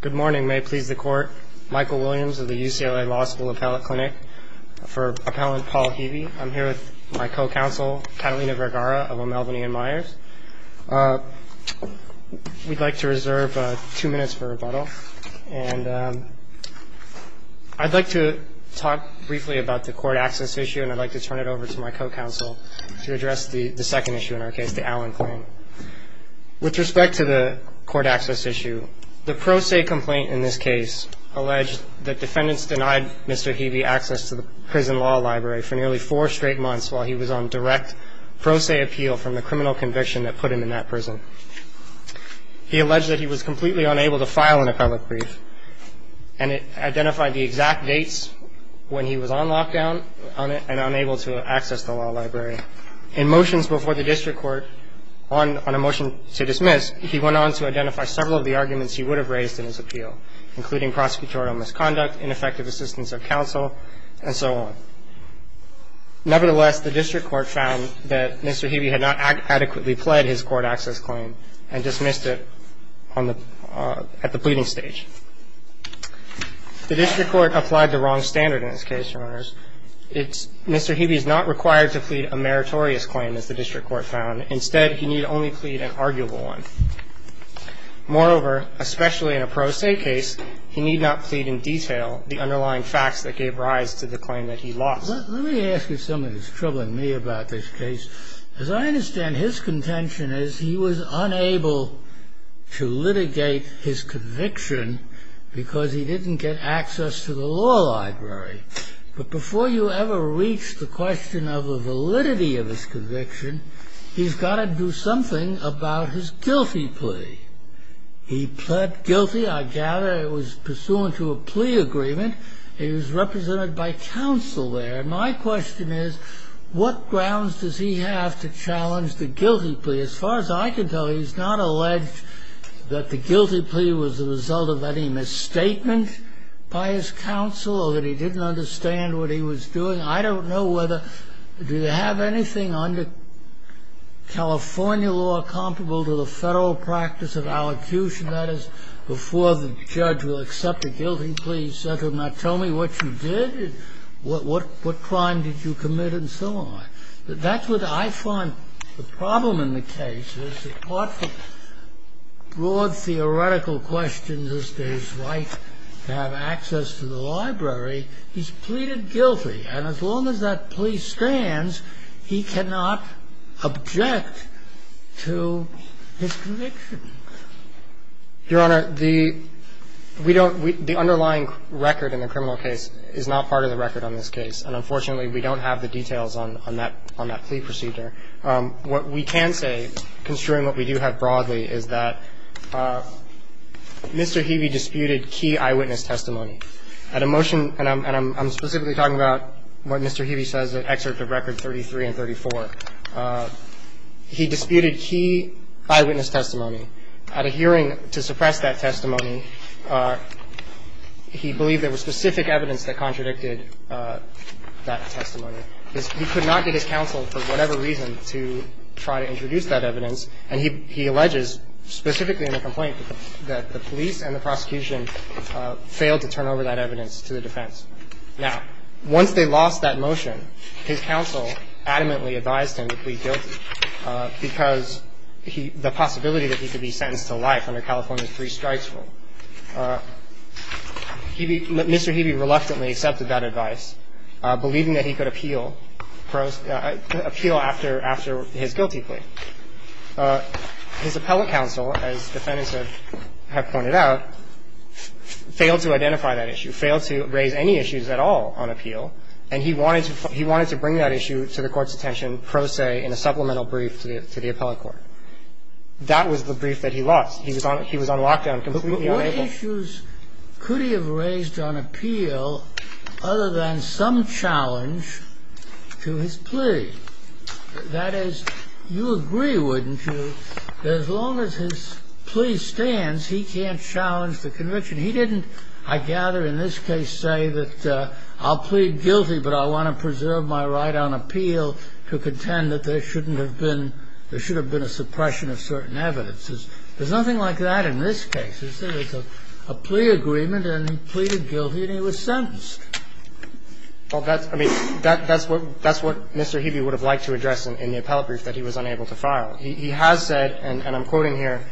Good morning. May it please the court. Michael Williams of the UCLA Law School Appellate Clinic for Appellant Paul Heavey. I'm here with my co-counsel Catalina Vergara of O'Melveny & Myers. We'd like to reserve two minutes for rebuttal. And I'd like to talk briefly about the court access issue, and I'd like to turn it over to my co-counsel to address the second issue in our case, the Allen claim. With respect to the court access issue, the pro se complaint in this case alleged that defendants denied Mr. Heavey access to the prison law library for nearly four straight months while he was on direct pro se appeal from the criminal conviction that put him in that prison. He alleged that he was completely unable to file an appellate brief and it identified the exact dates when he was on lockdown and unable to access the law library. In motions before the district court on a motion to dismiss, he went on to identify several of the arguments he would have raised in his appeal, including prosecutorial misconduct, ineffective assistance of counsel, and so on. Nevertheless, the district court found that Mr. Heavey had not adequately pled his court access claim and dismissed it at the pleading stage. The district court applied the wrong standard in this case, Your Honors. Mr. Heavey is not required to plead a meritorious claim, as the district court found. Instead, he need only plead an arguable one. Moreover, especially in a pro se case, he need not plead in detail the underlying facts that gave rise to the claim that he lost. Let me ask you something that's troubling me about this case. As I understand, his contention is he was unable to litigate his conviction because he didn't get access to the law library. But before you ever reach the question of the validity of his conviction, he's got to do something about his guilty plea. He pled guilty, I gather it was pursuant to a plea agreement. He was represented by counsel there. My question is, what grounds does he have to challenge the guilty plea? As far as I can tell, he's not alleged that the guilty plea was the result of any misstatement by his counsel or that he didn't understand what he was doing. I don't know whether they have anything under California law comparable to the federal practice of allocution. That is, before the judge will accept the guilty plea, he said to him, now tell me what you did, what crime did you commit, and so on. That's what I find the problem in the case is, apart from broad theoretical questions as to his right to have access to the library, he's pleaded guilty. And as long as that plea stands, he cannot object to his conviction. Your Honor, the underlying record in the criminal case is not part of the record on this case. And unfortunately, we don't have the details on that plea procedure. What we can say, construing what we do have broadly, is that Mr. Heavey disputed key eyewitness testimony. At a motion, and I'm specifically talking about what Mr. Heavey says at Excerpt of Record 33 and 34, he disputed key eyewitness testimony. At a hearing to suppress that testimony, he believed there was specific evidence that contradicted that testimony. He could not get his counsel, for whatever reason, to try to introduce that evidence. And he alleges, specifically in the complaint, that the police and the prosecution failed to turn over that evidence to the defense. Now, once they lost that motion, his counsel adamantly advised him to plead guilty, because the possibility that he could be sentenced to life under California's three strikes rule. Mr. Heavey reluctantly accepted that advice, believing that he could appeal, appeal after his guilty plea. His appellate counsel, as Defendants have pointed out, failed to identify that issue, failed to raise any issues at all on appeal. And he wanted to bring that issue to the Court's attention pro se in a supplemental brief to the appellate court. That was the brief that he lost. He was on lockdown, completely unable. What issues could he have raised on appeal other than some challenge to his plea? That is, you agree, wouldn't you, that as long as his plea stands, he can't challenge the conviction? He didn't, I gather, in this case, say that I'll plead guilty, but I want to preserve my right on appeal to contend that there shouldn't have been – there should have been a suppression of certain evidences. There's nothing like that in this case. It's a plea agreement, and he pleaded guilty, and he was sentenced. Well, that's – I mean, that's what Mr. Heavey would have liked to address in the appellate brief that he was unable to file. He has said, and I'm quoting here,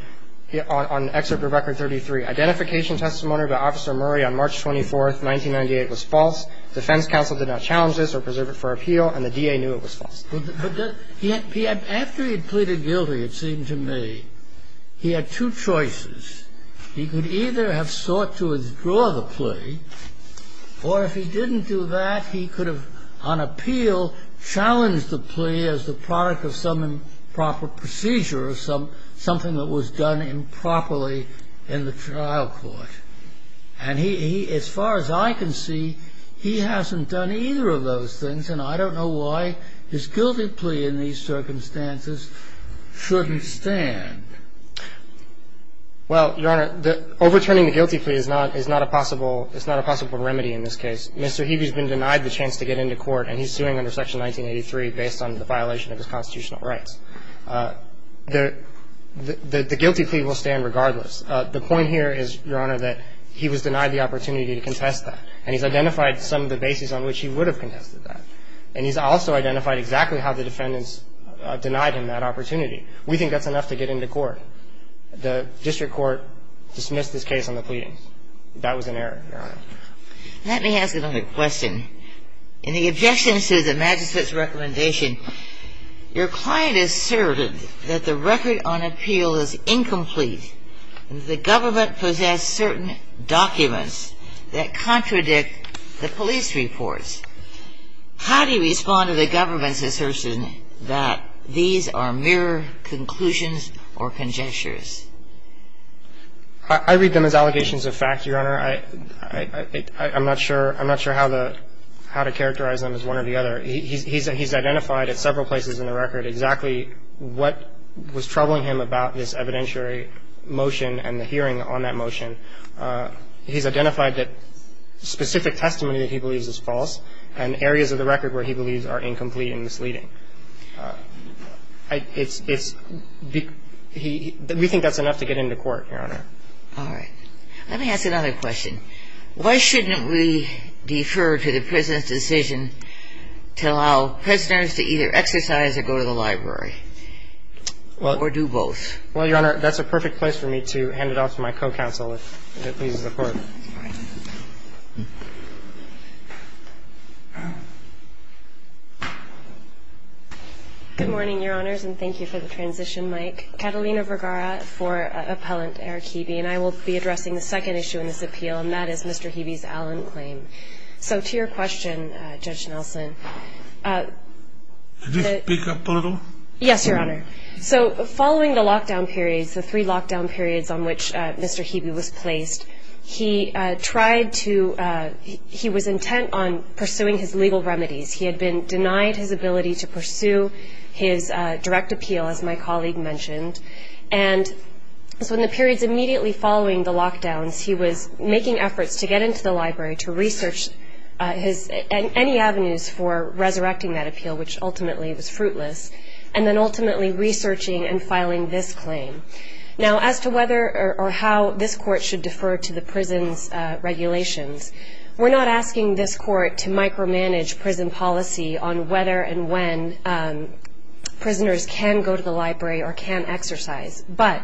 on Excerpt of Record 33, Identification Testimony by Officer Murray on March 24, 1998 was false. Defense counsel did not challenge this or preserve it for appeal, and the DA knew it was false. But he – after he had pleaded guilty, it seemed to me, he had two choices. He could either have sought to withdraw the plea, or if he didn't do that, he could have, on appeal, challenged the plea as the product of some improper procedure or something that was done improperly in the trial court. And he – as far as I can see, he hasn't done either of those things, and I don't know why his guilty plea in these circumstances shouldn't stand. Well, Your Honor, overturning the guilty plea is not a possible – it's not a possible remedy in this case. Mr. Heavey's been denied the chance to get into court, and he's suing under Section 1983 based on the violation of his constitutional rights. The guilty plea will stand regardless. The point here is, Your Honor, that he was denied the opportunity to contest that, and he's identified some of the basis on which he would have contested that. And he's also identified exactly how the defendants denied him that opportunity. We think that's enough to get into court. The district court dismissed this case on the pleadings. That was an error, Your Honor. Let me ask another question. In the objections to the magistrate's recommendation, your client asserted that the record on appeal is incomplete and that the government possessed certain documents that contradict the police reports. How do you respond to the government's assertion that these are mere conclusions or conjectures? I read them as allegations of fact, Your Honor. I'm not sure – I'm not sure how to characterize them as one or the other. He's identified at several places in the record exactly what was troubling him about this evidentiary motion and the hearing on that motion. He's identified that specific testimony that he believes is false and areas of the record where he believes are incomplete and misleading. It's – we think that's enough to get into court, Your Honor. All right. Let me ask another question. Why shouldn't we defer to the prisoner's decision to allow prisoners to either exercise or go to the library or do both? Well, Your Honor, that's a perfect place for me to hand it off to my co-counsel, if that pleases the Court. All right. Good morning, Your Honors, and thank you for the transition mic. Catalina Vergara for Appellant Eric Hebe, and I will be addressing the second issue in this appeal, and that is Mr. Hebe's Allen claim. So to your question, Judge Nelson – Can you speak up a little? Yes, Your Honor. So following the lockdown periods, the three lockdown periods on which Mr. Hebe was placed, he tried to – he was intent on pursuing his legal remedies. He had been denied his ability to pursue his direct appeal, as my colleague mentioned. And so in the periods immediately following the lockdowns, he was making efforts to get into the library to research his – any avenues for resurrecting that appeal, which ultimately was fruitless, and then ultimately researching and filing this claim. Now, as to whether or how this Court should defer to the prison's regulations, we're not asking this Court to micromanage prison policy on whether and when prisoners can go to the library or can exercise. But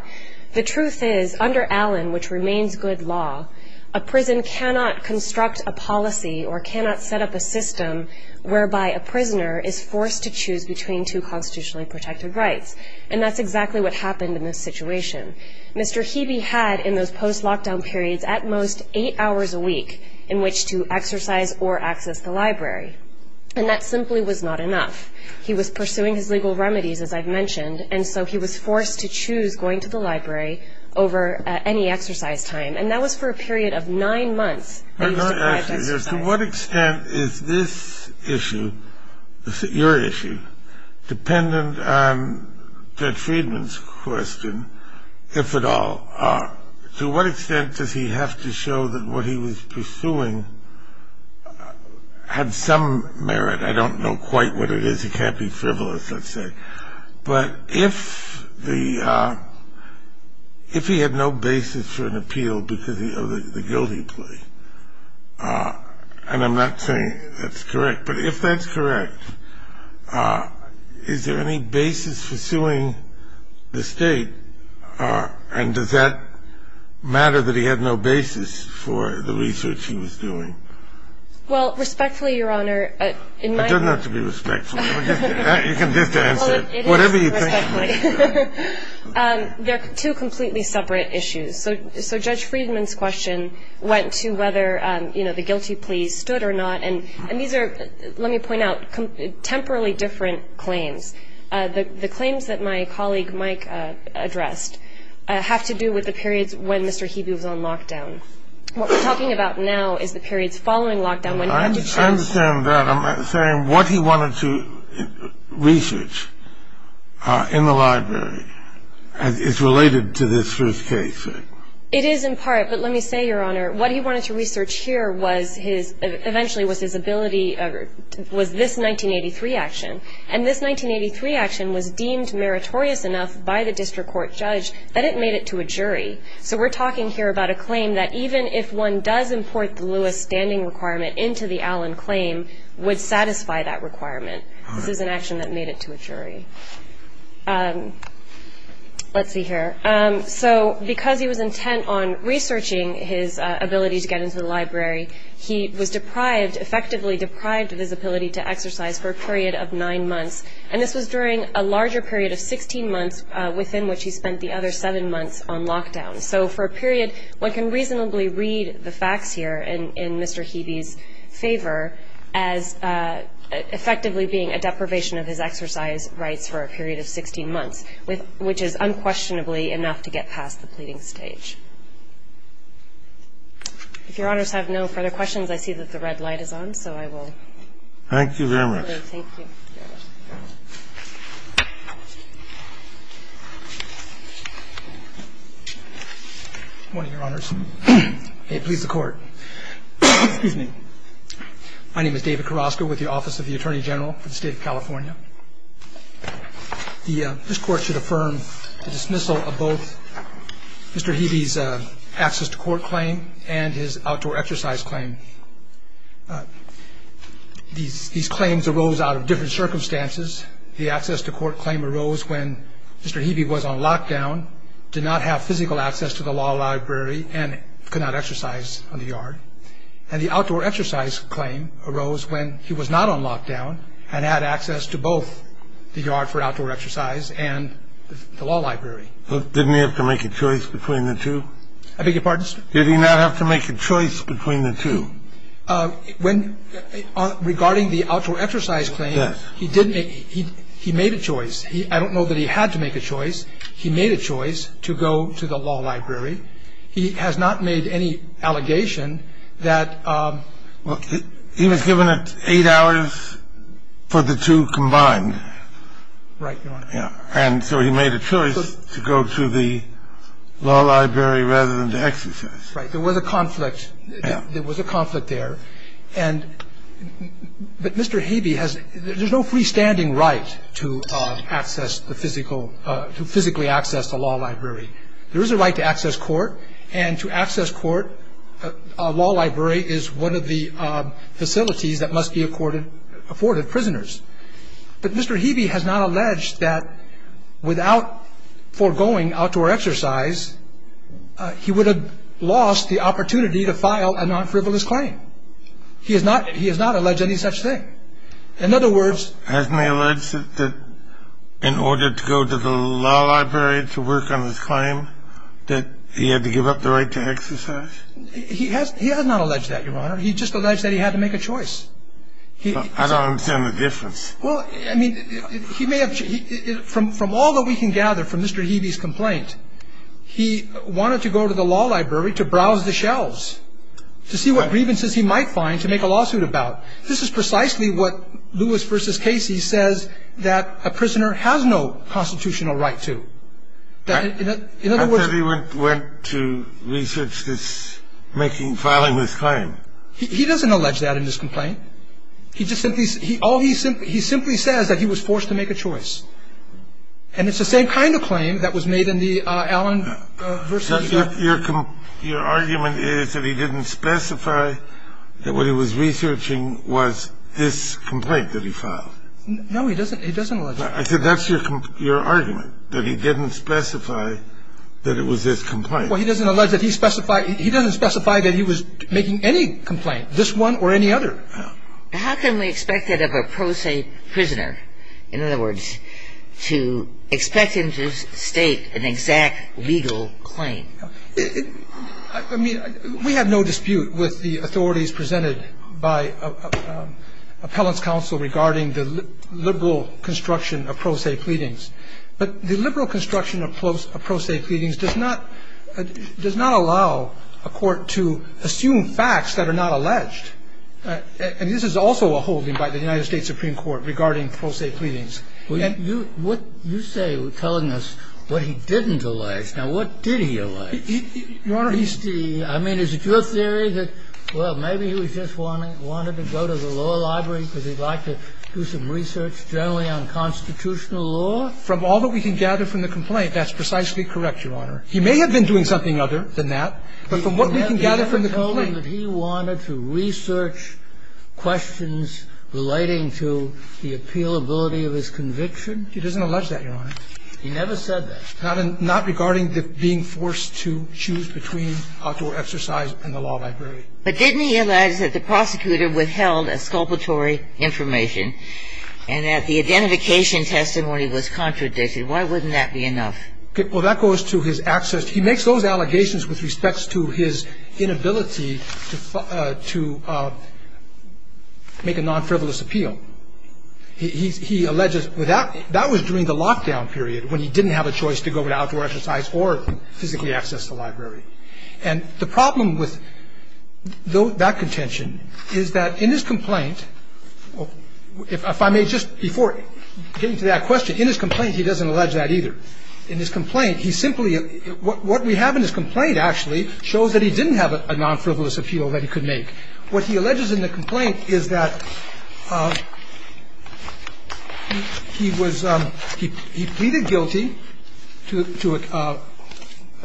the truth is, under Allen, which remains good law, a prison cannot construct a policy or cannot set up a system whereby a prisoner is forced to choose between two constitutionally protected rights, and that's exactly what happened in this situation. Mr. Hebe had, in those post-lockdown periods, at most eight hours a week in which to exercise or access the library, and that simply was not enough. He was pursuing his legal remedies, as I've mentioned, and so he was forced to choose going to the library over any exercise time, and that was for a period of nine months that he was deprived of exercise. To what extent is this issue, your issue, dependent on Judge Friedman's question, if at all? To what extent does he have to show that what he was pursuing had some merit? I don't know quite what it is. He can't be frivolous, let's say. But if he had no basis for an appeal because of the guilt he played, and I'm not saying that's correct, but if that's correct, is there any basis for suing the State, and does that matter that he had no basis for the research he was doing? Well, respectfully, Your Honor, in my view... It doesn't have to be respectfully. You can just answer it. It is respectfully. Whatever you think. They're two completely separate issues. So Judge Friedman's question went to whether, you know, the guilty plea stood or not, and these are, let me point out, temporarily different claims. The claims that my colleague Mike addressed have to do with the periods when Mr. Hebu was on lockdown. What we're talking about now is the periods following lockdown when he had to choose. I understand that. But I'm saying what he wanted to research in the library is related to this first case. It is in part, but let me say, Your Honor, what he wanted to research here was his, eventually was his ability, was this 1983 action. And this 1983 action was deemed meritorious enough by the district court judge that it made it to a jury. So we're talking here about a claim that even if one does import the Lewis standing requirement into the Allen claim would satisfy that requirement. This is an action that made it to a jury. Let's see here. So because he was intent on researching his ability to get into the library, he was deprived, effectively deprived of his ability to exercise for a period of nine months. And this was during a larger period of 16 months within which he spent the other seven months on lockdown. So for a period, one can reasonably read the facts here in Mr. Heavey's favor as effectively being a deprivation of his exercise rights for a period of 16 months, which is unquestionably enough to get past the pleading stage. If Your Honors have no further questions, I see that the red light is on, so I will. Thank you very much. Thank you. Good morning, Your Honors. May it please the Court. Excuse me. My name is David Carrasco with the Office of the Attorney General for the State of California. This Court should affirm the dismissal of both Mr. Heavey's access to court claim and his outdoor exercise claim. These claims arose out of different circumstances. The access to court claim arose when Mr. Heavey was on lockdown, did not have physical access to the law library, and could not exercise on the yard. And the outdoor exercise claim arose when he was not on lockdown and had access to both the yard for outdoor exercise and the law library. Didn't he have to make a choice between the two? I beg your pardon, sir? Did he not have to make a choice between the two? Regarding the outdoor exercise claim, he made a choice. I don't know that he had to make a choice. He made a choice to go to the law library. He has not made any allegation that... He was given eight hours for the two combined. Right, Your Honor. And so he made a choice to go to the law library rather than the exercise. Right. There was a conflict. There was a conflict there. But Mr. Heavey has no freestanding right to physically access the law library. There is a right to access court, and to access court, a law library is one of the facilities that must be afforded prisoners. But Mr. Heavey has not alleged that without foregoing outdoor exercise, he would have lost the opportunity to file a non-frivolous claim. He has not alleged any such thing. In other words... Hasn't he alleged that in order to go to the law library to work on his claim, that he had to give up the right to exercise? He has not alleged that, Your Honor. He just alleged that he had to make a choice. I don't understand the difference. Well, I mean, he may have... From all that we can gather from Mr. Heavey's complaint, he wanted to go to the law library to browse the shelves, to see what grievances he might find to make a lawsuit about. This is precisely what Lewis v. Casey says that a prisoner has no constitutional right to. In other words... I thought he went to research this, making, filing this claim. He doesn't allege that in his complaint. He simply says that he was forced to make a choice. And it's the same kind of claim that was made in the Allen v.... Your argument is that he didn't specify that what he was researching was this complaint that he filed. No, he doesn't allege that. I said that's your argument, that he didn't specify that it was this complaint. Well, he doesn't allege that he specified... He doesn't specify that he was making any complaint, this one or any other. How can we expect that of a pro se prisoner? In other words, to expect him to state an exact legal claim? I mean, we have no dispute with the authorities presented by appellant's counsel regarding the liberal construction of pro se pleadings. But the liberal construction of pro se pleadings does not allow a court to assume facts that are not alleged. And this is also a holding by the United States Supreme Court regarding pro se pleadings. You say you're telling us what he didn't allege. Now, what did he allege? Your Honor, he's... I mean, is it your theory that, well, maybe he just wanted to go to the law library because he'd like to do some research generally on constitutional law? From all that we can gather from the complaint, that's precisely correct, Your Honor. He may have been doing something other than that. But from what we can gather from the complaint... Did you ever tell him that he wanted to research questions relating to the appealability of his conviction? He doesn't allege that, Your Honor. He never said that. Not regarding being forced to choose between outdoor exercise and the law library. But didn't he allege that the prosecutor withheld exculpatory information and that the identification testimony was contradicted? Why wouldn't that be enough? Well, that goes to his access... He makes those allegations with respect to his inability to make a non-frivolous appeal. He alleges... That was during the lockdown period when he didn't have a choice to go without outdoor exercise or physically access the library. And the problem with that contention is that in his complaint... If I may just... Before getting to that question, in his complaint, he doesn't allege that either. In his complaint, he simply... What we have in his complaint, actually, shows that he didn't have a non-frivolous appeal that he could make. What he alleges in the complaint is that he was... He pleaded guilty to a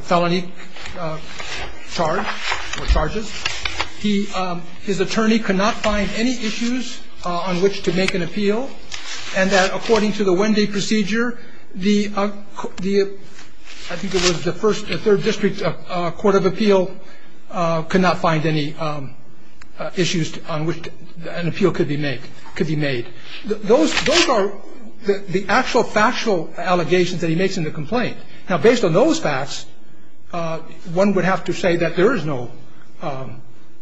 felony charge or charges. His attorney could not find any issues on which to make an appeal. And that according to the Wendy procedure, the... I think it was the Third District Court of Appeal could not find any issues on which an appeal could be made. Those are the actual factual allegations that he makes in the complaint. Now, based on those facts, one would have to say that there is no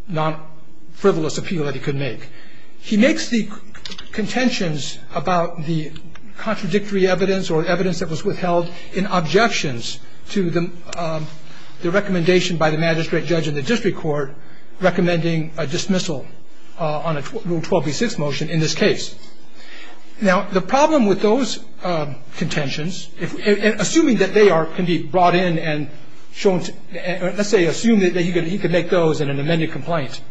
non-frivolous appeal that he could make. He makes the contentions about the contradictory evidence or evidence that was withheld in objections to the recommendation by the magistrate judge in the district court recommending a dismissal on a Rule 12b-6 motion in this case. Now, the problem with those contentions, assuming that they can be brought in and shown to... Let's say, assume that he could make those in an amended complaint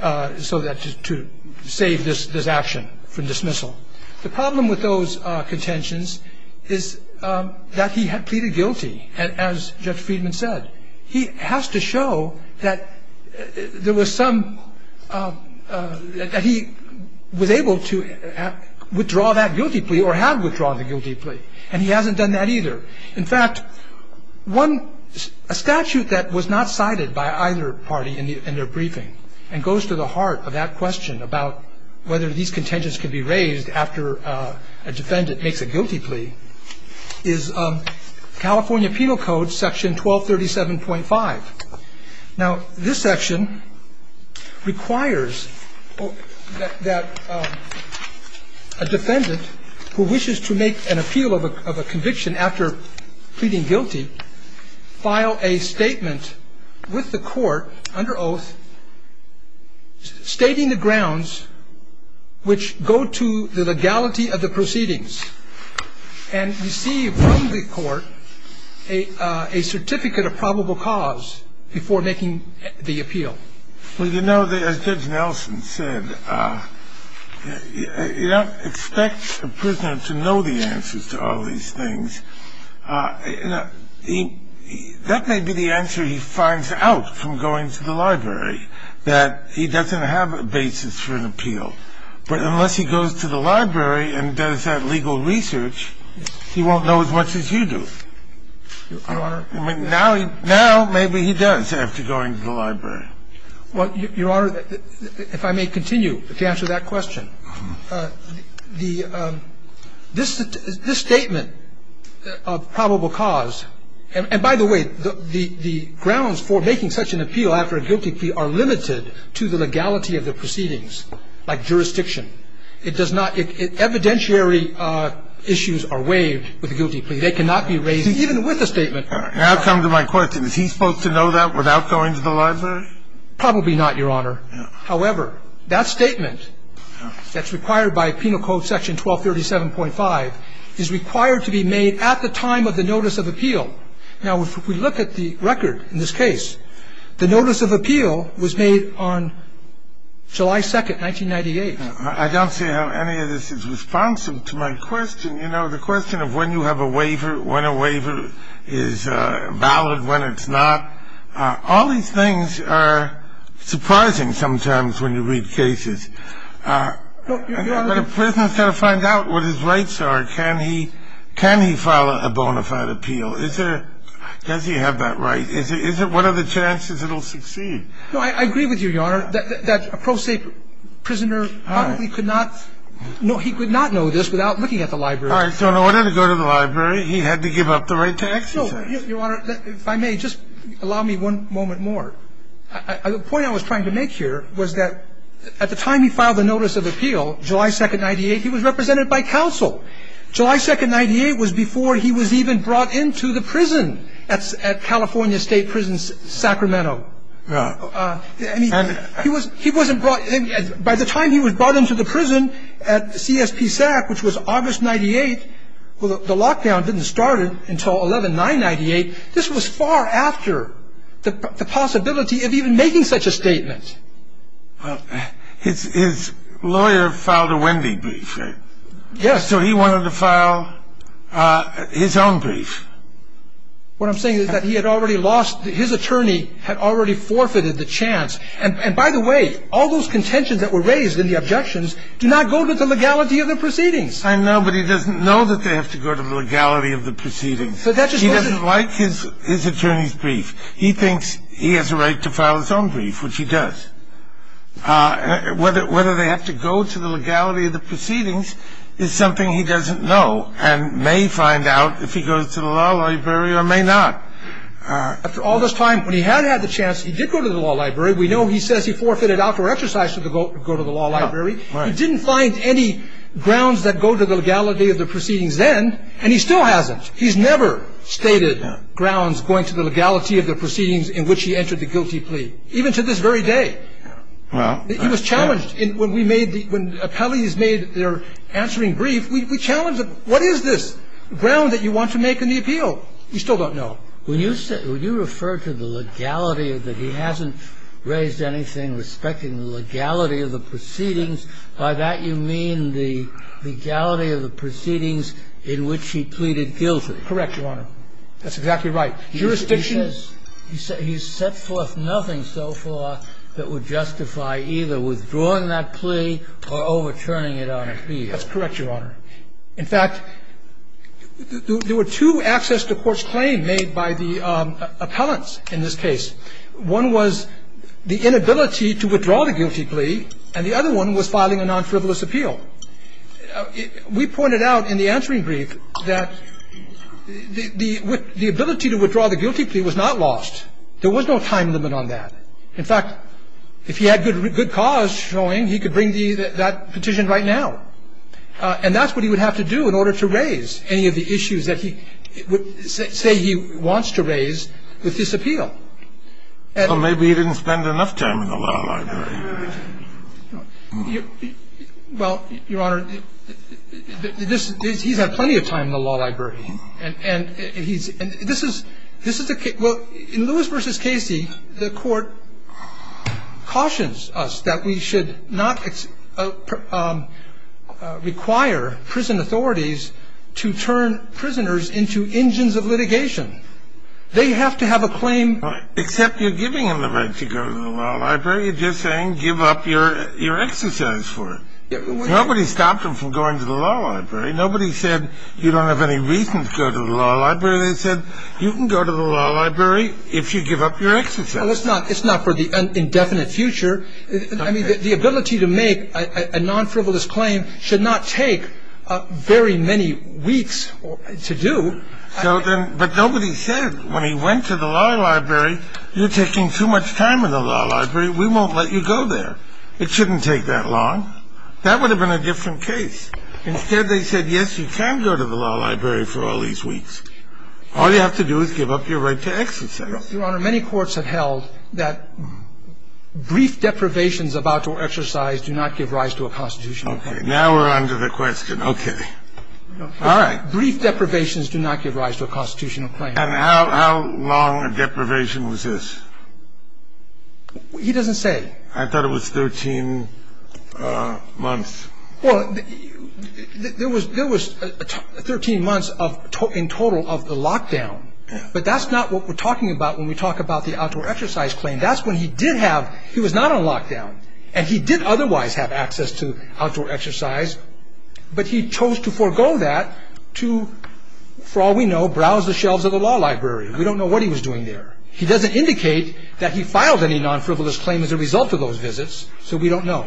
to save this action from dismissal. The problem with those contentions is that he had pleaded guilty, as Judge Friedman said. He has to show that there was some... that he was able to withdraw that guilty plea or had withdrawn the guilty plea. And he hasn't done that either. In fact, a statute that was not cited by either party in their briefing and goes to the heart of that question about whether these contentions could be raised after a defendant makes a guilty plea is California Penal Code section 1237.5. Now, this section requires that a defendant who wishes to make an appeal of a conviction after pleading guilty file a statement with the court under oath stating the grounds which go to the legality of the proceedings and receive from the court a certificate of probable cause before making the appeal. Well, you know, as Judge Nelson said, you don't expect a prisoner to know the answers to all these things. That may be the answer he finds out from going to the library, that he doesn't have a basis for an appeal. But unless he goes to the library and does that legal research, he won't know as much as you do. Your Honor... I mean, now maybe he does after going to the library. Well, Your Honor, if I may continue to answer that question. This statement of probable cause, and by the way, the grounds for making such an appeal after a guilty plea are limited to the legality of the proceedings, like jurisdiction. It does not – evidentiary issues are waived with a guilty plea. They cannot be raised even with a statement. That comes to my question. Is he supposed to know that without going to the library? Probably not, Your Honor. However, that statement that's required by Penal Code Section 1237.5 is required to be made at the time of the notice of appeal. Now, if we look at the record in this case, the notice of appeal was made on July 2nd, 1998. I don't see how any of this is responsive to my question. You know, the question of when you have a waiver, when a waiver is valid, when it's not, all these things are surprising sometimes when you read cases. But a prisoner's got to find out what his rights are. Can he – can he file a bona fide appeal? Is there – does he have that right? Is it – what are the chances it'll succeed? No, I agree with you, Your Honor, that a pro se prisoner probably could not – he could not know this without looking at the library. All right. So in order to go to the library, he had to give up the right to exercise. No, Your Honor, if I may, just allow me one moment more. The point I was trying to make here was that at the time he filed the notice of appeal, July 2nd, 1998, he was represented by counsel. July 2nd, 1998 was before he was even brought into the prison at California State Prison Sacramento. Right. I mean, he was – he wasn't brought – by the time he was brought into the prison at CSP SAC, which was August 98, the lockdown didn't start until 11-9-98. This was far after the possibility of even making such a statement. Well, his lawyer filed a Wendy brief, right? Yes. So he wanted to file his own brief. What I'm saying is that he had already lost – his attorney had already forfeited the chance. And by the way, all those contentions that were raised in the objections do not go to the legality of the proceedings. I know, but he doesn't know that they have to go to the legality of the proceedings. He doesn't like his attorney's brief. He thinks he has a right to file his own brief, which he does. Whether they have to go to the legality of the proceedings is something he doesn't know and may find out if he goes to the law library or may not. After all this time, when he had had the chance, he did go to the law library. We know he says he forfeited outdoor exercise to go to the law library. He didn't find any grounds that go to the legality of the proceedings then, and he still hasn't. He's never stated grounds going to the legality of the proceedings in which he entered the guilty plea, even to this very day. He was challenged when we made the – when appellees made their answering brief, we challenged them, what is this ground that you want to make in the appeal? We still don't know. We still don't know. When you said – when you referred to the legality of the – he hasn't raised anything respecting the legality of the proceedings, by that you mean the legality of the proceedings in which he pleaded guilty. Correct, Your Honor. That's exactly right. Jurisdiction? He says – he's set forth nothing so far that would justify either withdrawing that plea or overturning it on appeal. That's correct, Your Honor. In fact, there were two access to court's claim made by the appellants in this case. One was the inability to withdraw the guilty plea, and the other one was filing a non-frivolous appeal. We pointed out in the answering brief that the ability to withdraw the guilty plea was not lost. There was no time limit on that. In fact, if he had good cause showing, he could bring that petition right now. And that's what he would have to do in order to raise any of the issues that he – say he wants to raise with this appeal. Well, maybe he didn't spend enough time in the law library. Well, Your Honor, this – he's had plenty of time in the law library. And he's – this is a – well, in Lewis v. Casey, the court cautions us that we should not require prison authorities to turn prisoners into engines of litigation. They have to have a claim. Except you're giving them the right to go to the law library. You're just saying give up your exercise for it. Nobody stopped them from going to the law library. Nobody said you don't have any reason to go to the law library. They said you can go to the law library if you give up your exercise. Well, it's not – it's not for the indefinite future. I mean, the ability to make a non-frivolous claim should not take very many weeks to do. So then – but nobody said when he went to the law library, you're taking too much time in the law library. We won't let you go there. It shouldn't take that long. That would have been a different case. Instead, they said, yes, you can go to the law library for all these weeks. All you have to do is give up your right to exercise. Your Honor, many courts have held that brief deprivations about your exercise do not give rise to a constitutional claim. Okay. Now we're on to the question. Okay. All right. Brief deprivations do not give rise to a constitutional claim. And how long a deprivation was this? He doesn't say. I thought it was 13 months. Well, there was – there was 13 months of – in total of the lockdown. But that's not what we're talking about when we talk about the outdoor exercise claim. That's when he did have – he was not on lockdown. And he did otherwise have access to outdoor exercise. But he chose to forego that to, for all we know, browse the shelves of the law library. We don't know what he was doing there. He doesn't indicate that he filed any non-frivolous claim as a result of those visits. So we don't know.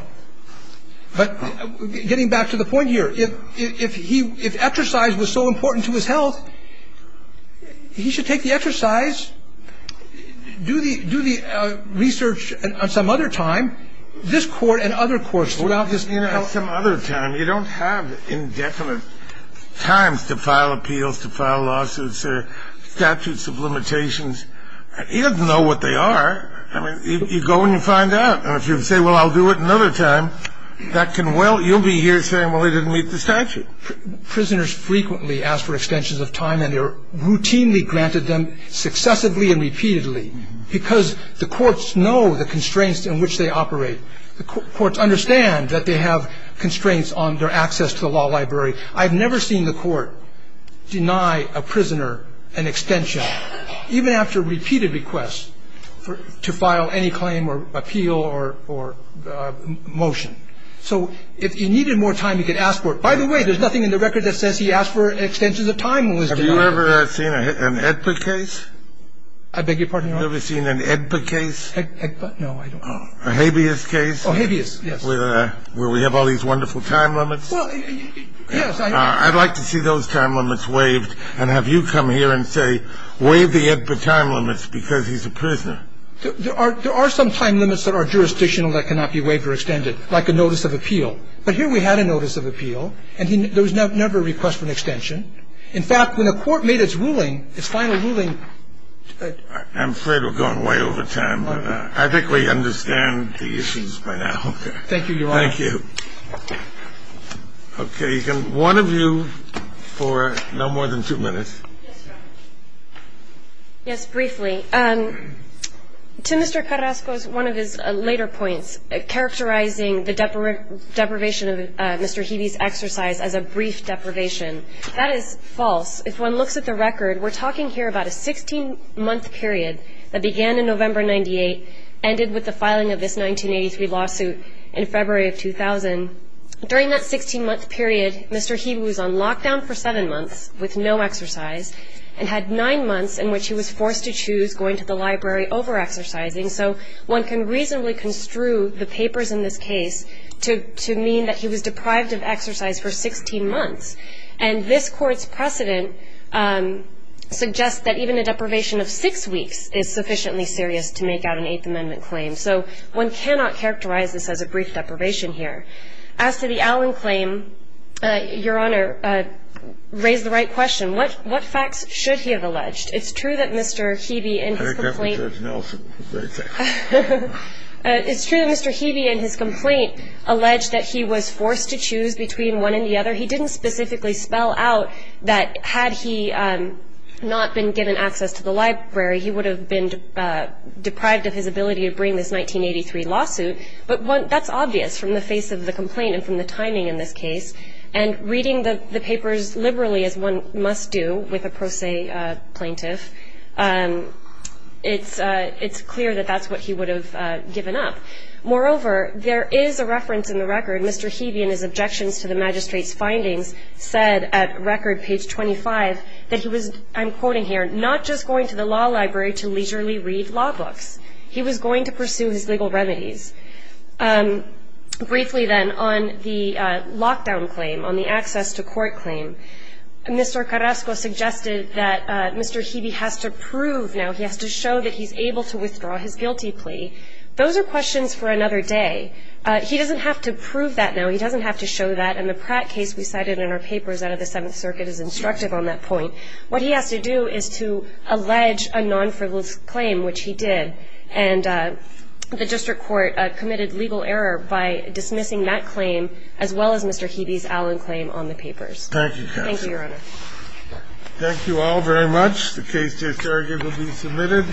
But getting back to the point here, if he – if exercise was so important to his health, he should take the exercise, do the research at some other time, this Court and other courts throughout this country. At some other time. You don't have indefinite times to file appeals, to file lawsuits or statutes of limitations. He doesn't know what they are. I mean, you go and you find out. And if you say, well, I'll do it another time, that can well – you'll be here saying, well, it didn't meet the statute. Prisoners frequently ask for extensions of time, and they're routinely granted them successively and repeatedly. Because the courts know the constraints in which they operate. The courts understand that they have constraints on their access to the law library. I've never seen the court deny a prisoner an extension. I've never seen the court deny a prisoner an extension of time. I've never seen the court deny a prisoner an extension of time, even after repeated requests to file any claim or appeal or motion. So if he needed more time, he could ask for it. By the way, there's nothing in the record that says he asked for extensions of time listed on it. Have you ever seen an AEDPA case? I beg your pardon, Your Honor? Have you ever seen an AEDPA case? AEDPA? No, I don't. A habeas case? Oh, habeas, yes. Where we have all these wonderful time limits? Well, yes, I have. I'd like to see those time limits waived. And have you come here and say, waive the AEDPA time limits because he's a prisoner? There are some time limits that are jurisdictional that cannot be waived or extended, like a notice of appeal. But here we had a notice of appeal, and there was never a request for an extension. In fact, when the court made its ruling, its final ruling – I'm afraid we're going way over time. I think we understand the issues by now. Thank you, Your Honor. Thank you. Okay. One of you for no more than two minutes. Yes, briefly. To Mr. Carrasco's one of his later points, characterizing the deprivation of Mr. Hebe's exercise as a brief deprivation. That is false. If one looks at the record, we're talking here about a 16-month period that began in November 1998, ended with the filing of this 1983 lawsuit in February of 2000. During that 16-month period, Mr. Hebe was on lockdown for seven months with no exercise and had nine months in which he was forced to choose going to the library over exercising. So one can reasonably construe the papers in this case to mean that he was deprived of exercise for 16 months. And this Court's precedent suggests that even a deprivation of six weeks is sufficiently serious to make out an Eighth Amendment claim. So one cannot characterize this as a brief deprivation here. As to the Allen claim, Your Honor, raise the right question. What facts should he have alleged? It's true that Mr. Hebe in his complaint – I think that's what Judge Nelson would say. It's true that Mr. Hebe in his complaint alleged that he was forced to choose between one and the other. He didn't specifically spell out that had he not been given access to the library, he would have been deprived of his ability to bring this 1983 lawsuit. But that's obvious from the face of the complaint and from the timing in this case. And reading the papers liberally, as one must do with a pro se plaintiff, it's clear that that's what he would have given up. Moreover, there is a reference in the record, Mr. Hebe in his objections to the magistrate's findings, said at record page 25 that he was, I'm quoting here, not just going to the law library to leisurely read law books. He was going to pursue his legal remedies. Briefly then, on the lockdown claim, on the access to court claim, Mr. Carrasco suggested that Mr. Hebe has to prove now, he has to show that he's able to withdraw his guilty plea. Those are questions for another day. He doesn't have to prove that now. He doesn't have to show that. And the Pratt case we cited in our papers out of the Seventh Circuit is instructive on that point. What he has to do is to allege a non-frivolous claim, which he did. And the district court committed legal error by dismissing that claim as well as Mr. Hebe's Allen claim on the papers. Thank you, counsel. Thank you, Your Honor. Thank you all very much. The case to its argument will be submitted.